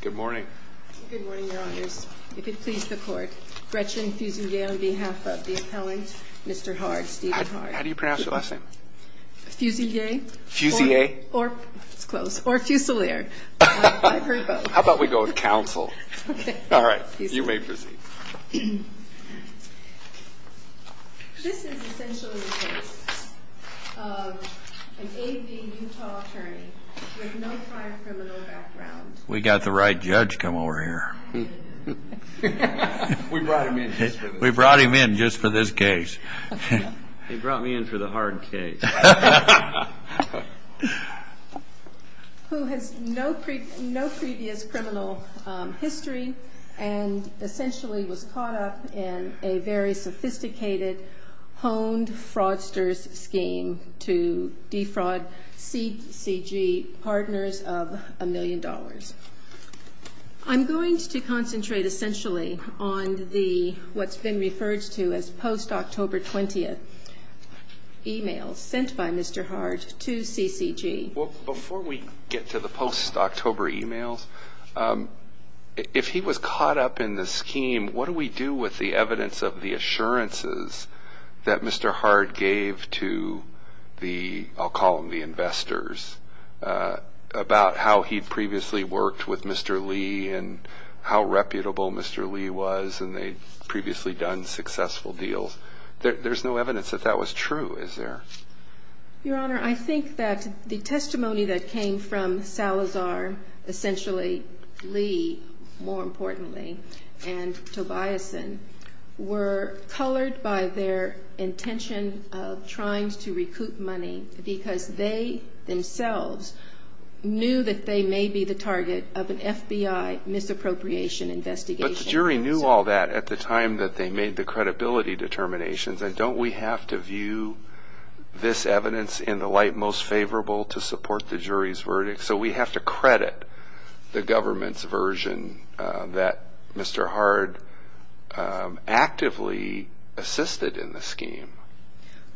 Good morning. Good morning, your honors. If it pleases the court, Gretchen Fusilier on behalf of the appellant, Mr. Hard, Stephen Hard. How do you pronounce your last name? Fusilier. Fusilier? Or, it's close, or Fusilier. I've heard both. How about we go with counsel? Okay. All right. You may proceed. This is essentially the case of an A.B. Utah attorney with no prior criminal background. We got the right judge to come over here. We brought him in just for this case. He brought me in for the hard case. Who has no previous criminal history and essentially was caught up in a very sophisticated, honed fraudster's scheme to defraud CCG partners of a million dollars. I'm going to concentrate essentially on what's been referred to as post-October 20th emails sent by Mr. Hard to CCG. Before we get to the post-October emails, if he was caught up in the scheme, what do we do with the evidence of the assurances that Mr. Hard gave to the, I'll call them the investors, about how he'd previously worked with Mr. Lee and how reputable Mr. Lee was and they'd previously done successful deals? There's no evidence that that was true, is there? Your Honor, I think that the testimony that came from Salazar, essentially Lee, more importantly, and Tobiason were colored by their intention of trying to recoup money because they themselves knew that they may be the target of an FBI misappropriation investigation. But the jury knew all that at the time that they made the credibility determinations and don't we have to view this evidence in the light most favorable to support the jury's verdict? So we have to credit the government's version that Mr. Hard actively assisted in the scheme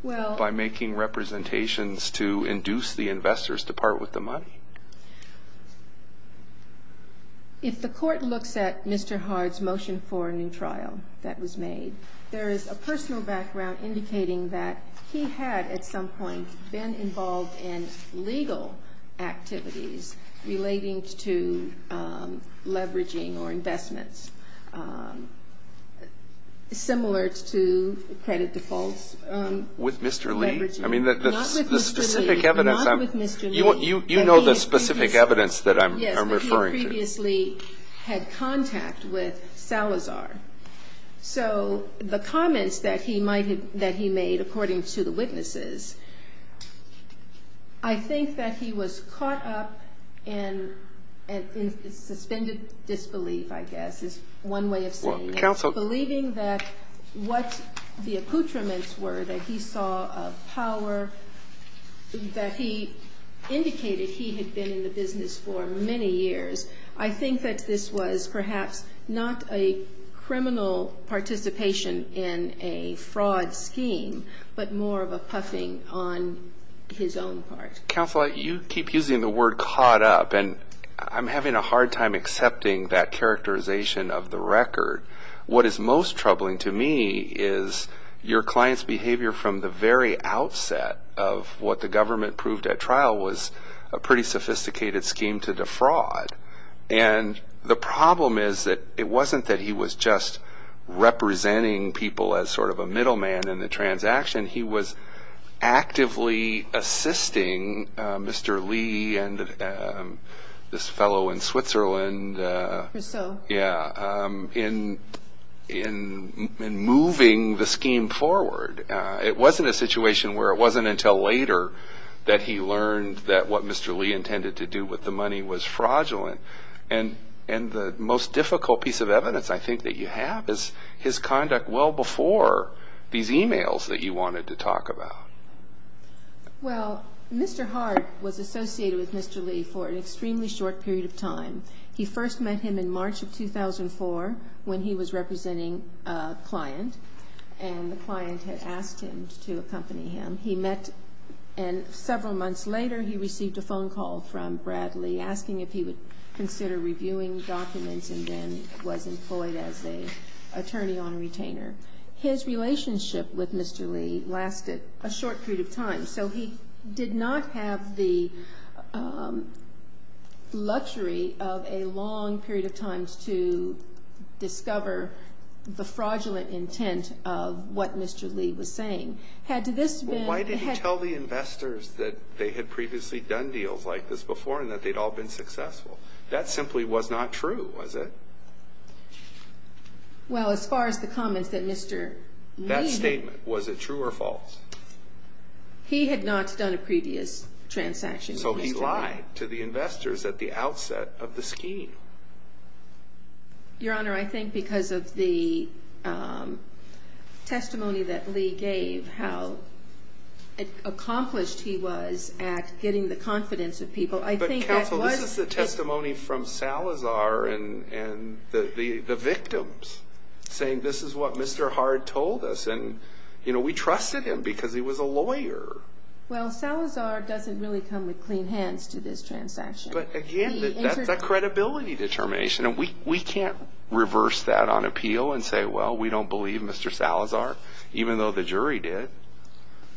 by making representations to induce the investors to part with the money? If the court looks at Mr. Hard's motion for a new trial that was made, there is a personal background indicating that he had at some point been involved in legal activities relating to leveraging or investments similar to credit defaults. With Mr. Lee? You know the specific evidence that I'm referring to. Yes, but he had previously had contact with Salazar. So the comments that he made, according to the witnesses, I think that he was caught up in suspended disbelief, I guess, is one way of saying it. Believing that what the accoutrements were that he saw of power, that he indicated he had been in the business for many years, I think that this was perhaps not a criminal participation in a fraud scheme, but more of a puffing on his own part. Counsel, you keep using the word caught up, and I'm having a hard time accepting that characterization of the record. What is most troubling to me is your client's behavior from the very outset of what the government proved at trial was a pretty sophisticated scheme to defraud. And the problem is that it wasn't that he was just representing people as sort of a middleman in the transaction. He was actively assisting Mr. Lee and this fellow in Switzerland in moving the scheme forward. It wasn't a situation where it wasn't until later that he learned that what Mr. Lee intended to do with the money was fraudulent. And the most difficult piece of evidence I think that you have is his conduct well before these e-mails that you wanted to talk about. Well, Mr. Hart was associated with Mr. Lee for an extremely short period of time. He first met him in March of 2004 when he was representing a client and the client had asked him to accompany him. He met and several months later he received a phone call from Bradley asking if he would consider reviewing documents and then was employed as an attorney on a retainer. His relationship with Mr. Lee lasted a short period of time. So he did not have the luxury of a long period of time to discover the fraudulent intent of what Mr. Lee was saying. Why did he tell the investors that they had previously done deals like this before and that they'd all been successful? That simply was not true, was it? Well, as far as the comments that Mr. Lee... That statement, was it true or false? He had not done a previous transaction. So he lied to the investors at the outset of the scheme. Your Honor, I think because of the testimony that Lee gave, how accomplished he was at getting the confidence of people, I think that was... The victims saying, this is what Mr. Hard told us and we trusted him because he was a lawyer. Well, Salazar doesn't really come with clean hands to this transaction. But again, that's a credibility determination and we can't reverse that on appeal and say, well, we don't believe Mr. Salazar, even though the jury did.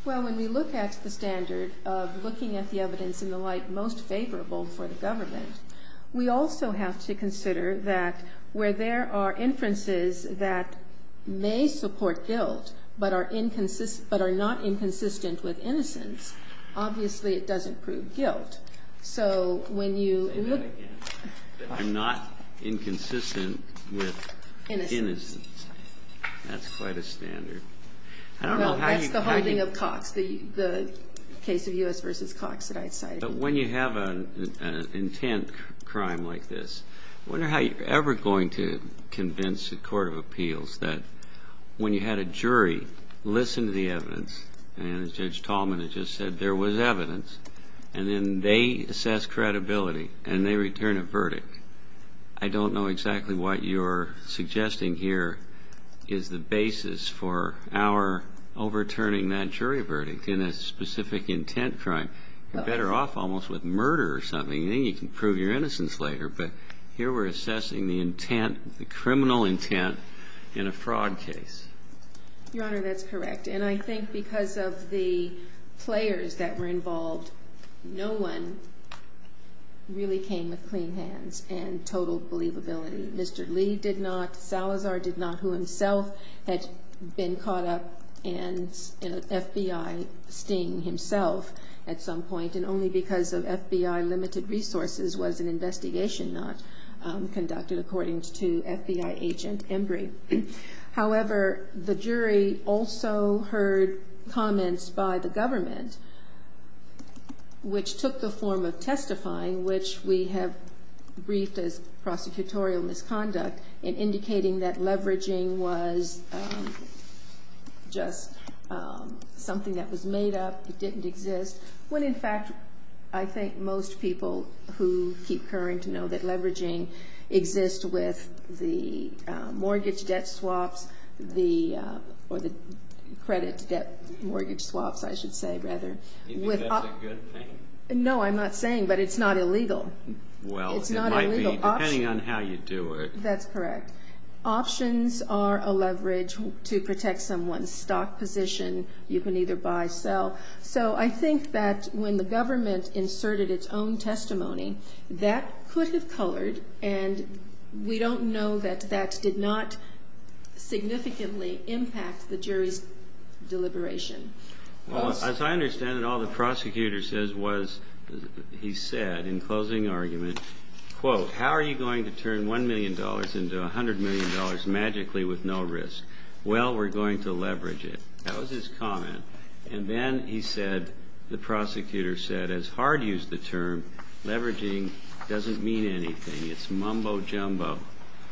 Well, when we look at the standard of looking at the evidence in the light most favorable for the government, we also have to consider that where there are inferences that may support guilt but are not inconsistent with innocence, obviously it doesn't prove guilt. So when you look... Say that again. I'm not inconsistent with innocence. That's quite a standard. Well, that's the holding of Cox, the case of U.S. v. Cox that I cited. But when you have an intent crime like this, I wonder how you're ever going to convince a court of appeals that when you had a jury listen to the evidence, and Judge Tallman had just said there was evidence, and then they assess credibility and they return a verdict. I don't know exactly what you're suggesting here is the basis for our overturning that jury verdict in a specific intent crime. You're better off almost with murder or something. Then you can prove your innocence later. But here we're assessing the intent, the criminal intent in a fraud case. Your Honor, that's correct. And I think because of the players that were involved, no one really came with clean hands and totaled believability. Mr. Lee did not. Salazar did not, who himself had been caught up in an FBI sting himself at some point, and only because of FBI limited resources was an investigation not conducted, according to FBI agent Embry. However, the jury also heard comments by the government, which took the form of testifying, which we have briefed as prosecutorial misconduct in indicating that leveraging was just something that was made up. It didn't exist. When, in fact, I think most people who keep current know that leveraging exists with the mortgage debt swaps, or the credit debt mortgage swaps, I should say, rather. You think that's a good thing? No, I'm not saying, but it's not illegal. Well, it might be, depending on how you do it. That's correct. Options are a leverage to protect someone's stock position. You can either buy, sell. So I think that when the government inserted its own testimony, that could have colored, and we don't know that that did not significantly impact the jury's deliberation. Well, as I understand it, all the prosecutor says was, he said in closing argument, quote, how are you going to turn $1 million into $100 million magically with no risk? Well, we're going to leverage it. That was his comment. And then he said, the prosecutor said, as hard used the term, leveraging doesn't mean anything. It's mumbo jumbo.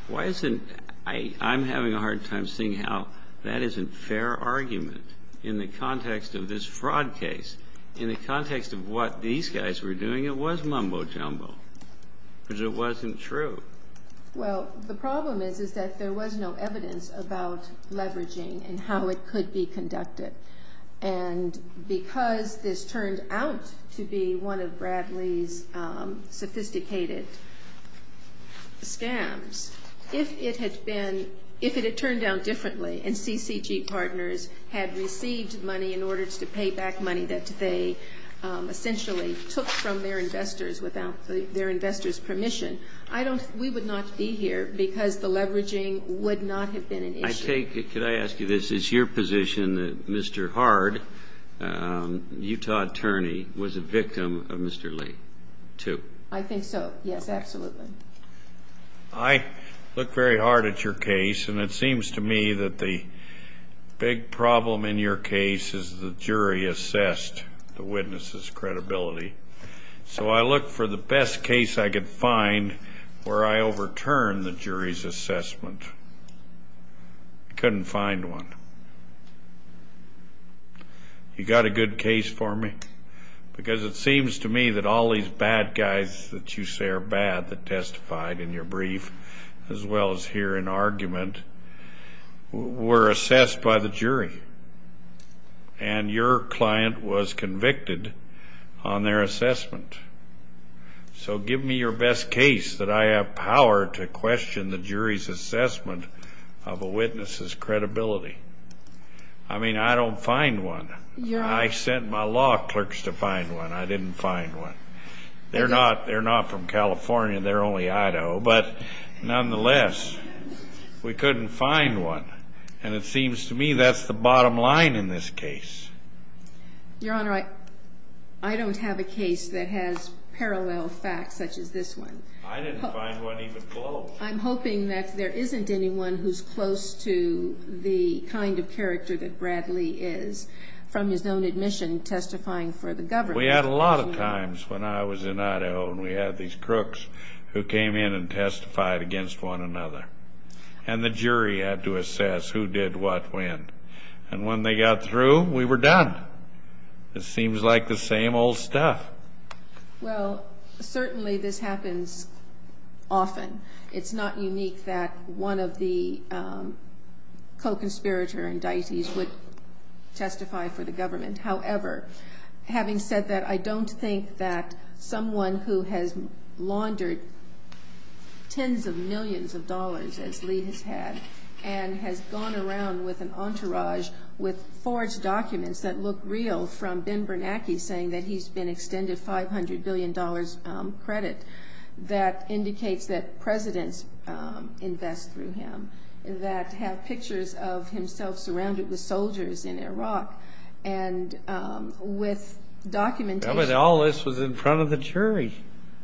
Why isn't, I'm having a hard time seeing how that isn't fair argument in the context of this fraud case. In the context of what these guys were doing, it was mumbo jumbo, because it wasn't true. Well, the problem is, is that there was no evidence about leveraging and how it could be conducted. And because this turned out to be one of Bradley's sophisticated scams, if it had been, if it had turned out differently and CCG partners had received money in order to pay back money that they essentially took from their investors without their investors' permission, we would not be here because the leveraging would not have been an issue. Can I ask you this? Is your position that Mr. Hard, Utah attorney, was a victim of Mr. Lee too? I think so. Yes, absolutely. I look very hard at your case, and it seems to me that the big problem in your case is the jury assessed the witness's credibility. So I look for the best case I could find where I overturn the jury's assessment. I couldn't find one. You got a good case for me? Because it seems to me that all these bad guys that you say are bad that testified in your brief, as well as here in argument, were assessed by the jury. And your client was convicted on their assessment. So give me your best case that I have power to question the jury's assessment of a witness's credibility. I mean, I don't find one. I sent my law clerks to find one. I didn't find one. They're not from California. They're only Idaho. But nonetheless, we couldn't find one. And it seems to me that's the bottom line in this case. Your Honor, I don't have a case that has parallel facts such as this one. I didn't find one even close. Well, I'm hoping that there isn't anyone who's close to the kind of character that Bradley is, from his own admission, testifying for the government. We had a lot of times when I was in Idaho and we had these crooks who came in and testified against one another. And the jury had to assess who did what when. And when they got through, we were done. It seems like the same old stuff. Well, certainly this happens often. It's not unique that one of the co-conspirator indictees would testify for the government. However, having said that, I don't think that someone who has laundered tens of millions of dollars, as Lee has had, and has gone around with an entourage with forged documents that look real, from Ben Bernanke saying that he's been extended $500 billion credit, that indicates that presidents invest through him, that have pictures of himself surrounded with soldiers in Iraq, and with documentation. All this was in front of the jury.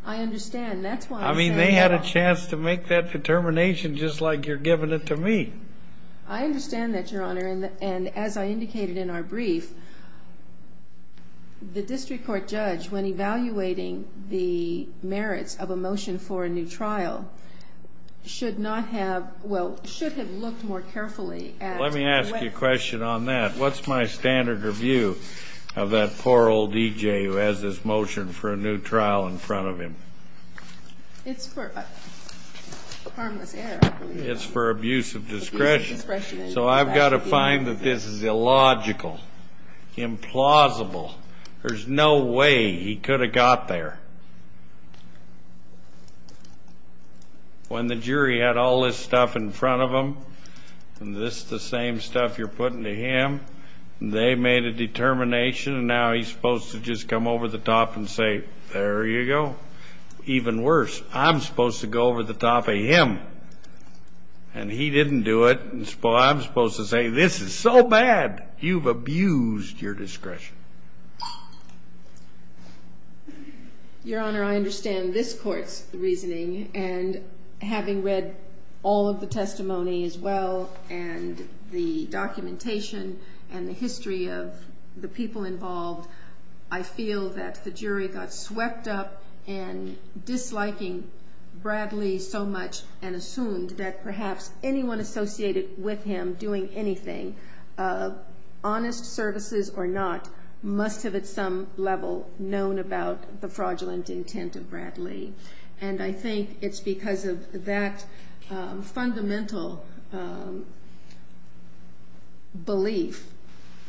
I understand. That's why I'm saying that. I mean, they had a chance to make that determination, just like you're giving it to me. I understand that, Your Honor, and as I indicated in our brief, the district court judge, when evaluating the merits of a motion for a new trial, should not have – well, should have looked more carefully at – Let me ask you a question on that. What's my standard review of that poor old D.J. who has this motion for a new trial in front of him? It's for harmless error. It's for abuse of discretion. So I've got to find that this is illogical, implausible. There's no way he could have got there. When the jury had all this stuff in front of them, and this is the same stuff you're putting to him, they made a determination, and now he's supposed to just come over the top and say, there you go. Even worse, I'm supposed to go over the top of him, and he didn't do it, and I'm supposed to say, this is so bad, you've abused your discretion. Your Honor, I understand this court's reasoning, and having read all of the testimony as well, and the documentation and the history of the people involved, I feel that the jury got swept up in disliking Bradley so much and assumed that perhaps anyone associated with him doing anything, honest services or not, must have at some level known about the fraudulent intent of Bradley. And I think it's because of that fundamental belief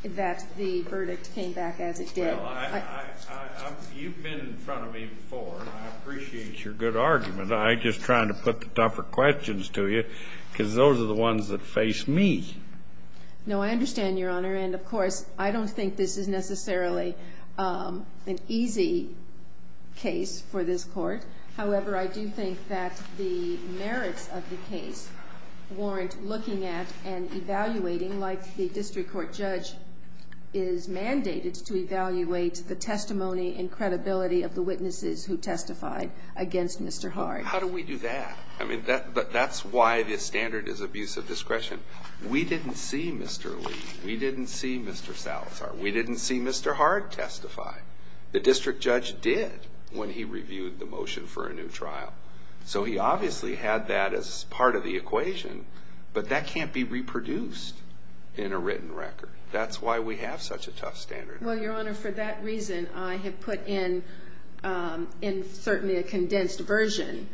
that the verdict came back as it did. Well, you've been in front of me before, and I appreciate your good argument. I'm just trying to put the tougher questions to you, because those are the ones that face me. No, I understand, Your Honor. And, of course, I don't think this is necessarily an easy case for this Court. However, I do think that the merits of the case warrant looking at and evaluating, like the district court judge is mandated to evaluate, the testimony and credibility of the witnesses who testified against Mr. Hard. How do we do that? I mean, that's why the standard is abuse of discretion. We didn't see Mr. Lee. We didn't see Mr. Salazar. We didn't see Mr. Hard testify. The district judge did when he reviewed the motion for a new trial. So he obviously had that as part of the equation, but that can't be reproduced in a written record. That's why we have such a tough standard. Well, Your Honor, for that reason, I have put in, certainly a condensed version,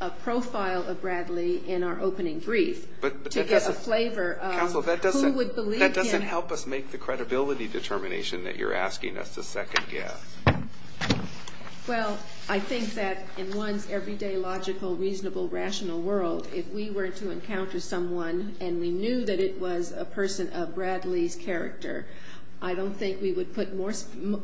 a profile of Bradley in our opening brief to get a flavor of who would believe him. Counsel, that doesn't help us make the credibility determination that you're asking us to second guess. Well, I think that in one's everyday logical, reasonable, rational world, if we were to encounter someone and we knew that it was a person of Bradley's character, I don't think we would put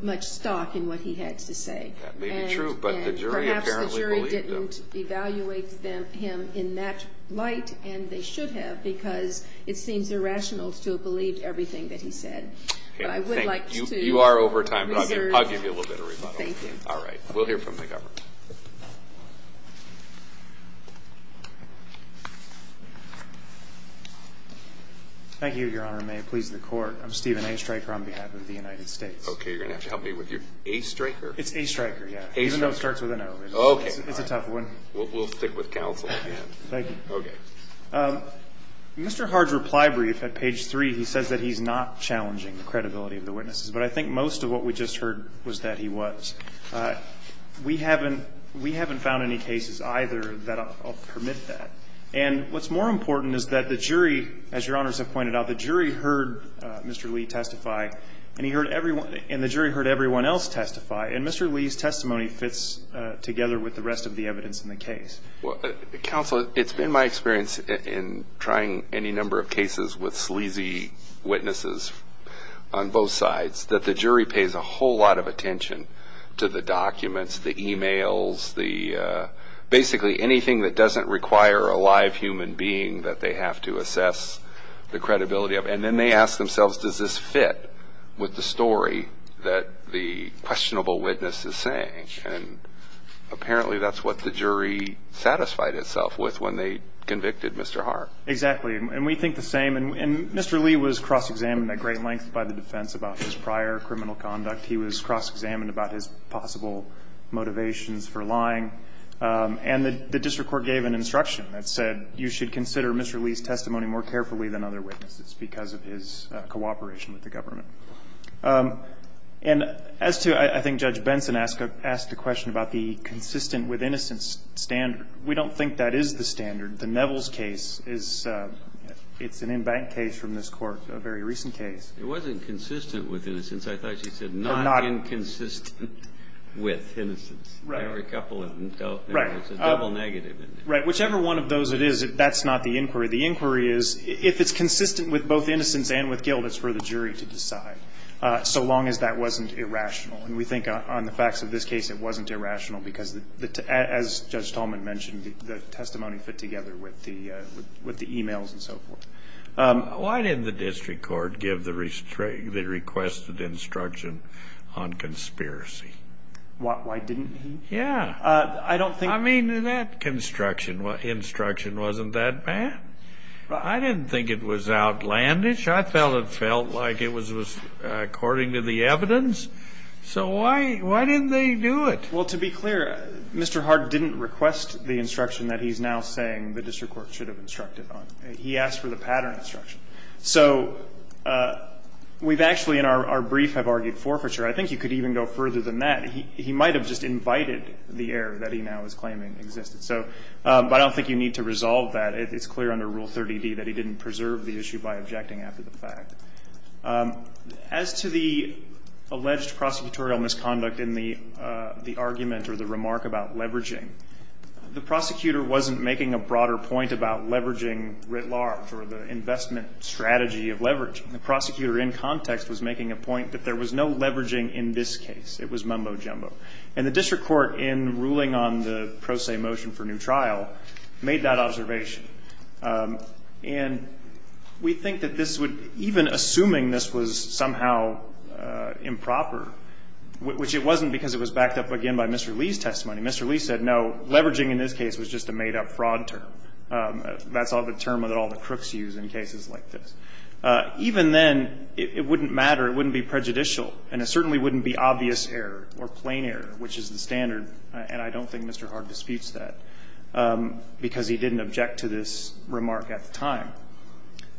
much stock in what he had to say. That may be true, but the jury apparently believed him. And perhaps the jury didn't evaluate him in that light, and they should have because it seems irrational to have believed everything that he said. But I would like to reserve that. You are over time, but I'll give you a little bit of rebuttal. Thank you. All right. We'll hear from the government. Thank you, Your Honor. And may it please the Court, I'm Stephen A. Stryker on behalf of the United States. Okay. You're going to have to help me with your A. Stryker? It's A. Stryker, yeah. Even though it starts with an O. Okay. It's a tough one. We'll stick with counsel. Thank you. Okay. Mr. Hart's reply brief at page 3, he says that he's not challenging the credibility of the witnesses. But I think most of what we just heard was that he was. We haven't found any cases either that permit that. And what's more important is that the jury, as Your Honors have pointed out, the jury heard Mr. Lee testify and the jury heard everyone else testify. And Mr. Lee's testimony fits together with the rest of the evidence in the case. Counsel, it's been my experience in trying any number of cases with sleazy witnesses on both sides that the jury pays a whole lot of attention to the documents, the e-mails, basically anything that doesn't require a live human being that they have to assess the credibility of. And then they ask themselves, does this fit with the story that the questionable witness is saying? And apparently that's what the jury satisfied itself with when they convicted Mr. Hart. Exactly. And we think the same. And Mr. Lee was cross-examined at great length by the defense about his prior criminal conduct. He was cross-examined about his possible motivations for lying. And the district court gave an instruction that said you should consider Mr. Lee's testimony more carefully than other witnesses because of his cooperation with the government. And as to – I think Judge Benson asked a question about the consistent with innocence standard. We don't think that is the standard. The Neville's case is – it's an in-bank case from this Court, a very recent case. It wasn't consistent with innocence. I thought she said not inconsistent with innocence. Right. There were a couple of – there was a double negative in there. Right. Whichever one of those it is, that's not the inquiry. The inquiry is if it's consistent with both innocence and with guilt, it's for the jury to decide, so long as that wasn't irrational. And we think on the facts of this case it wasn't irrational because, as Judge Tallman mentioned, the testimony fit together with the e-mails and so forth. Why didn't the district court give the requested instruction on conspiracy? Why didn't he? Yeah. I don't think – I mean, that instruction wasn't that bad. I didn't think it was outlandish. I felt it felt like it was according to the evidence. So why didn't they do it? Well, to be clear, Mr. Hart didn't request the instruction that he's now saying the district court should have instructed on. He asked for the pattern instruction. So we've actually in our brief have argued forfeiture. I think you could even go further than that. He might have just invited the error that he now is claiming existed. So I don't think you need to resolve that. It's clear under Rule 30D that he didn't preserve the issue by objecting after the fact. As to the alleged prosecutorial misconduct in the argument or the remark about leveraging, the prosecutor wasn't making a broader point about leveraging writ large or the investment strategy of leveraging. The prosecutor in context was making a point that there was no leveraging in this case. It was mumbo-jumbo. And the district court in ruling on the pro se motion for new trial made that observation. And we think that this would – even assuming this was somehow improper, which it wasn't because it was backed up again by Mr. Lee's testimony. Mr. Lee said, no, leveraging in this case was just a made-up fraud term. That's the term that all the crooks use in cases like this. Even then, it wouldn't matter. It wouldn't be prejudicial. And it certainly wouldn't be obvious error or plain error, which is the standard. And I don't think Mr. Hart disputes that because he didn't object to this remark at the time.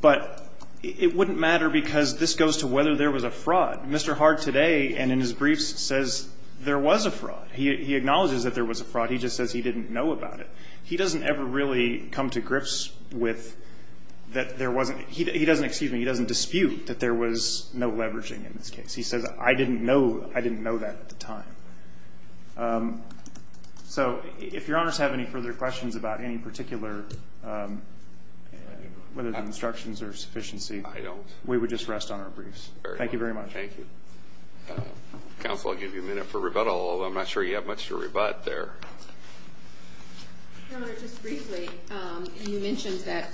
But it wouldn't matter because this goes to whether there was a fraud. Mr. Hart today and in his briefs says there was a fraud. He acknowledges that there was a fraud. He just says he didn't know about it. He doesn't ever really come to grips with that there wasn't – he doesn't – excuse me. He doesn't dispute that there was no leveraging in this case. He says, I didn't know. I didn't know that at the time. So if Your Honors have any further questions about any particular – whether the instructions are sufficiency. I don't. We would just rest on our briefs. Thank you very much. Thank you. Counsel, I'll give you a minute for rebuttal. I'm not sure you have much to rebut there. Your Honor, just briefly, you mentioned that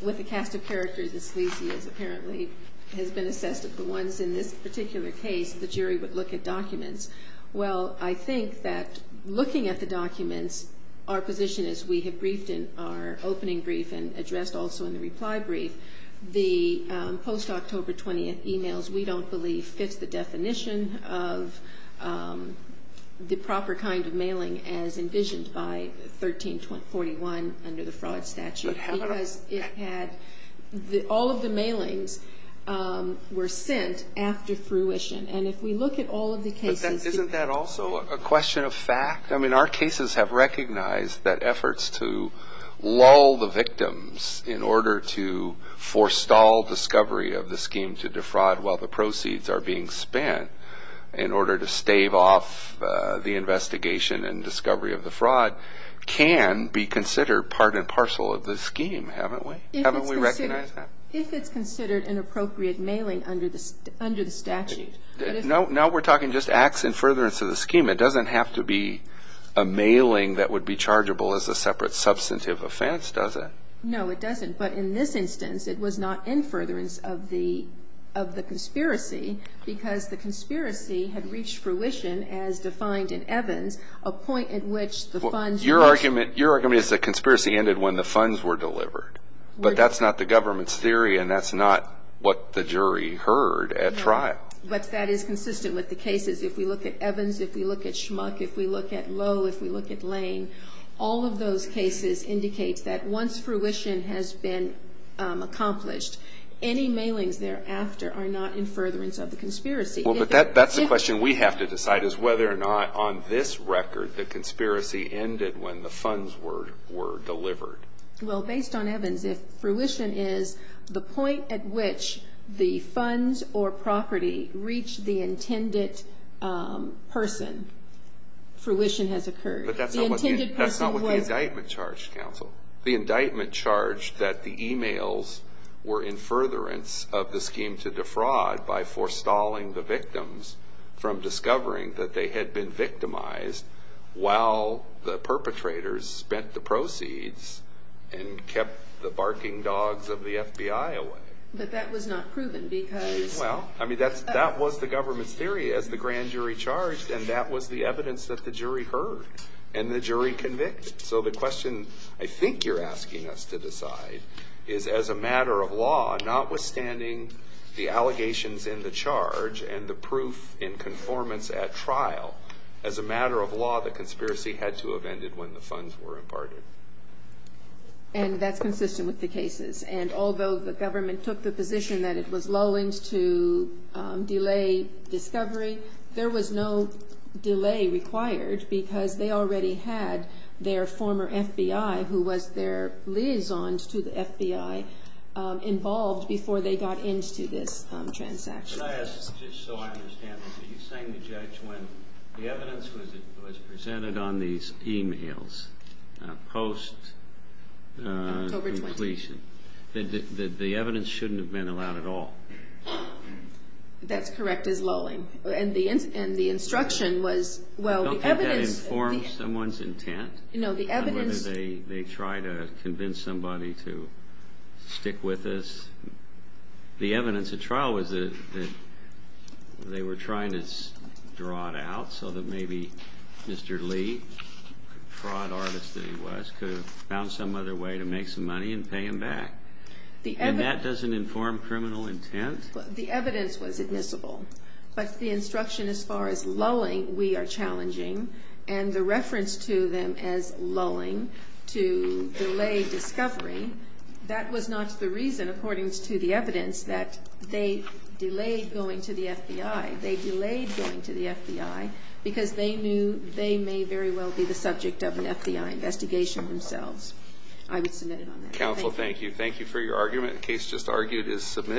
with the cast of characters that Sleazy is apparently – has been assessed of the ones in this particular case, the jury would look at documents. Well, I think that looking at the documents, our position is we have briefed in our opening brief and addressed also in the reply brief the post-October 20th emails we don't believe fits the definition of the proper kind of mailing as envisioned by 1341 under the fraud statute. Because it had – all of the mailings were sent after fruition. And if we look at all of the cases. But isn't that also a question of fact? I mean, our cases have recognized that efforts to lull the victims in order to forestall discovery of the scheme to defraud while the proceeds are being spent in order to stave off the investigation and discovery of the fraud can be considered part and parcel of the scheme, haven't we? Haven't we recognized that? If it's considered an appropriate mailing under the statute. No, we're talking just acts in furtherance of the scheme. It doesn't have to be a mailing that would be chargeable as a separate substantive offense, does it? No, it doesn't. But in this instance, it was not in furtherance of the conspiracy because the conspiracy had reached fruition as defined in Evans, a point at which the funds were – Your argument is the conspiracy ended when the funds were delivered. But that's not the government's theory and that's not what the jury heard at trial. But that is consistent with the cases. If we look at Evans, if we look at Schmuck, if we look at Lowe, if we look at Lane, all of those cases indicate that once fruition has been accomplished, any mailings thereafter are not in furtherance of the conspiracy. Well, but that's the question we have to decide is whether or not on this record the conspiracy ended when the funds were delivered. Well, based on Evans, if fruition is the point at which the funds or property reach the intended person, fruition has occurred. But that's not what the indictment charged, counsel. The indictment charged that the emails were in furtherance of the scheme to defraud by forestalling the victims from discovering that they had been victimized while the perpetrators spent the proceeds and kept the barking dogs of the FBI away. But that was not proven because – Well, I mean, that was the government's theory as the grand jury charged and that was the evidence that the jury heard and the jury convicted. So the question I think you're asking us to decide is as a matter of law, notwithstanding the allegations in the charge and the proof in conformance at trial, as a matter of law, the conspiracy had to have ended when the funds were imparted. And that's consistent with the cases. And although the government took the position that it was lulling to delay discovery, there was no delay required because they already had their former FBI, who was their liaison to the FBI, involved before they got into this transaction. But I ask just so I understand this. Are you saying the judge, when the evidence was presented on these emails post-completion, that the evidence shouldn't have been allowed at all? That's correct as lulling. And the instruction was, well, the evidence – Don't you think that informs someone's intent? No, the evidence – Whether they try to convince somebody to stick with this. The evidence at trial was that they were trying to draw it out so that maybe Mr. Lee, the fraud artist that he was, could have found some other way to make some money and pay him back. And that doesn't inform criminal intent? The evidence was admissible. But the instruction as far as lulling, we are challenging. And the reference to them as lulling to delay discovery, that was not the reason, according to the evidence, that they delayed going to the FBI. They delayed going to the FBI because they knew they may very well be the subject of an FBI investigation themselves. I would submit it on that. Counsel, thank you. Thank you for your argument. The case just argued is submitted.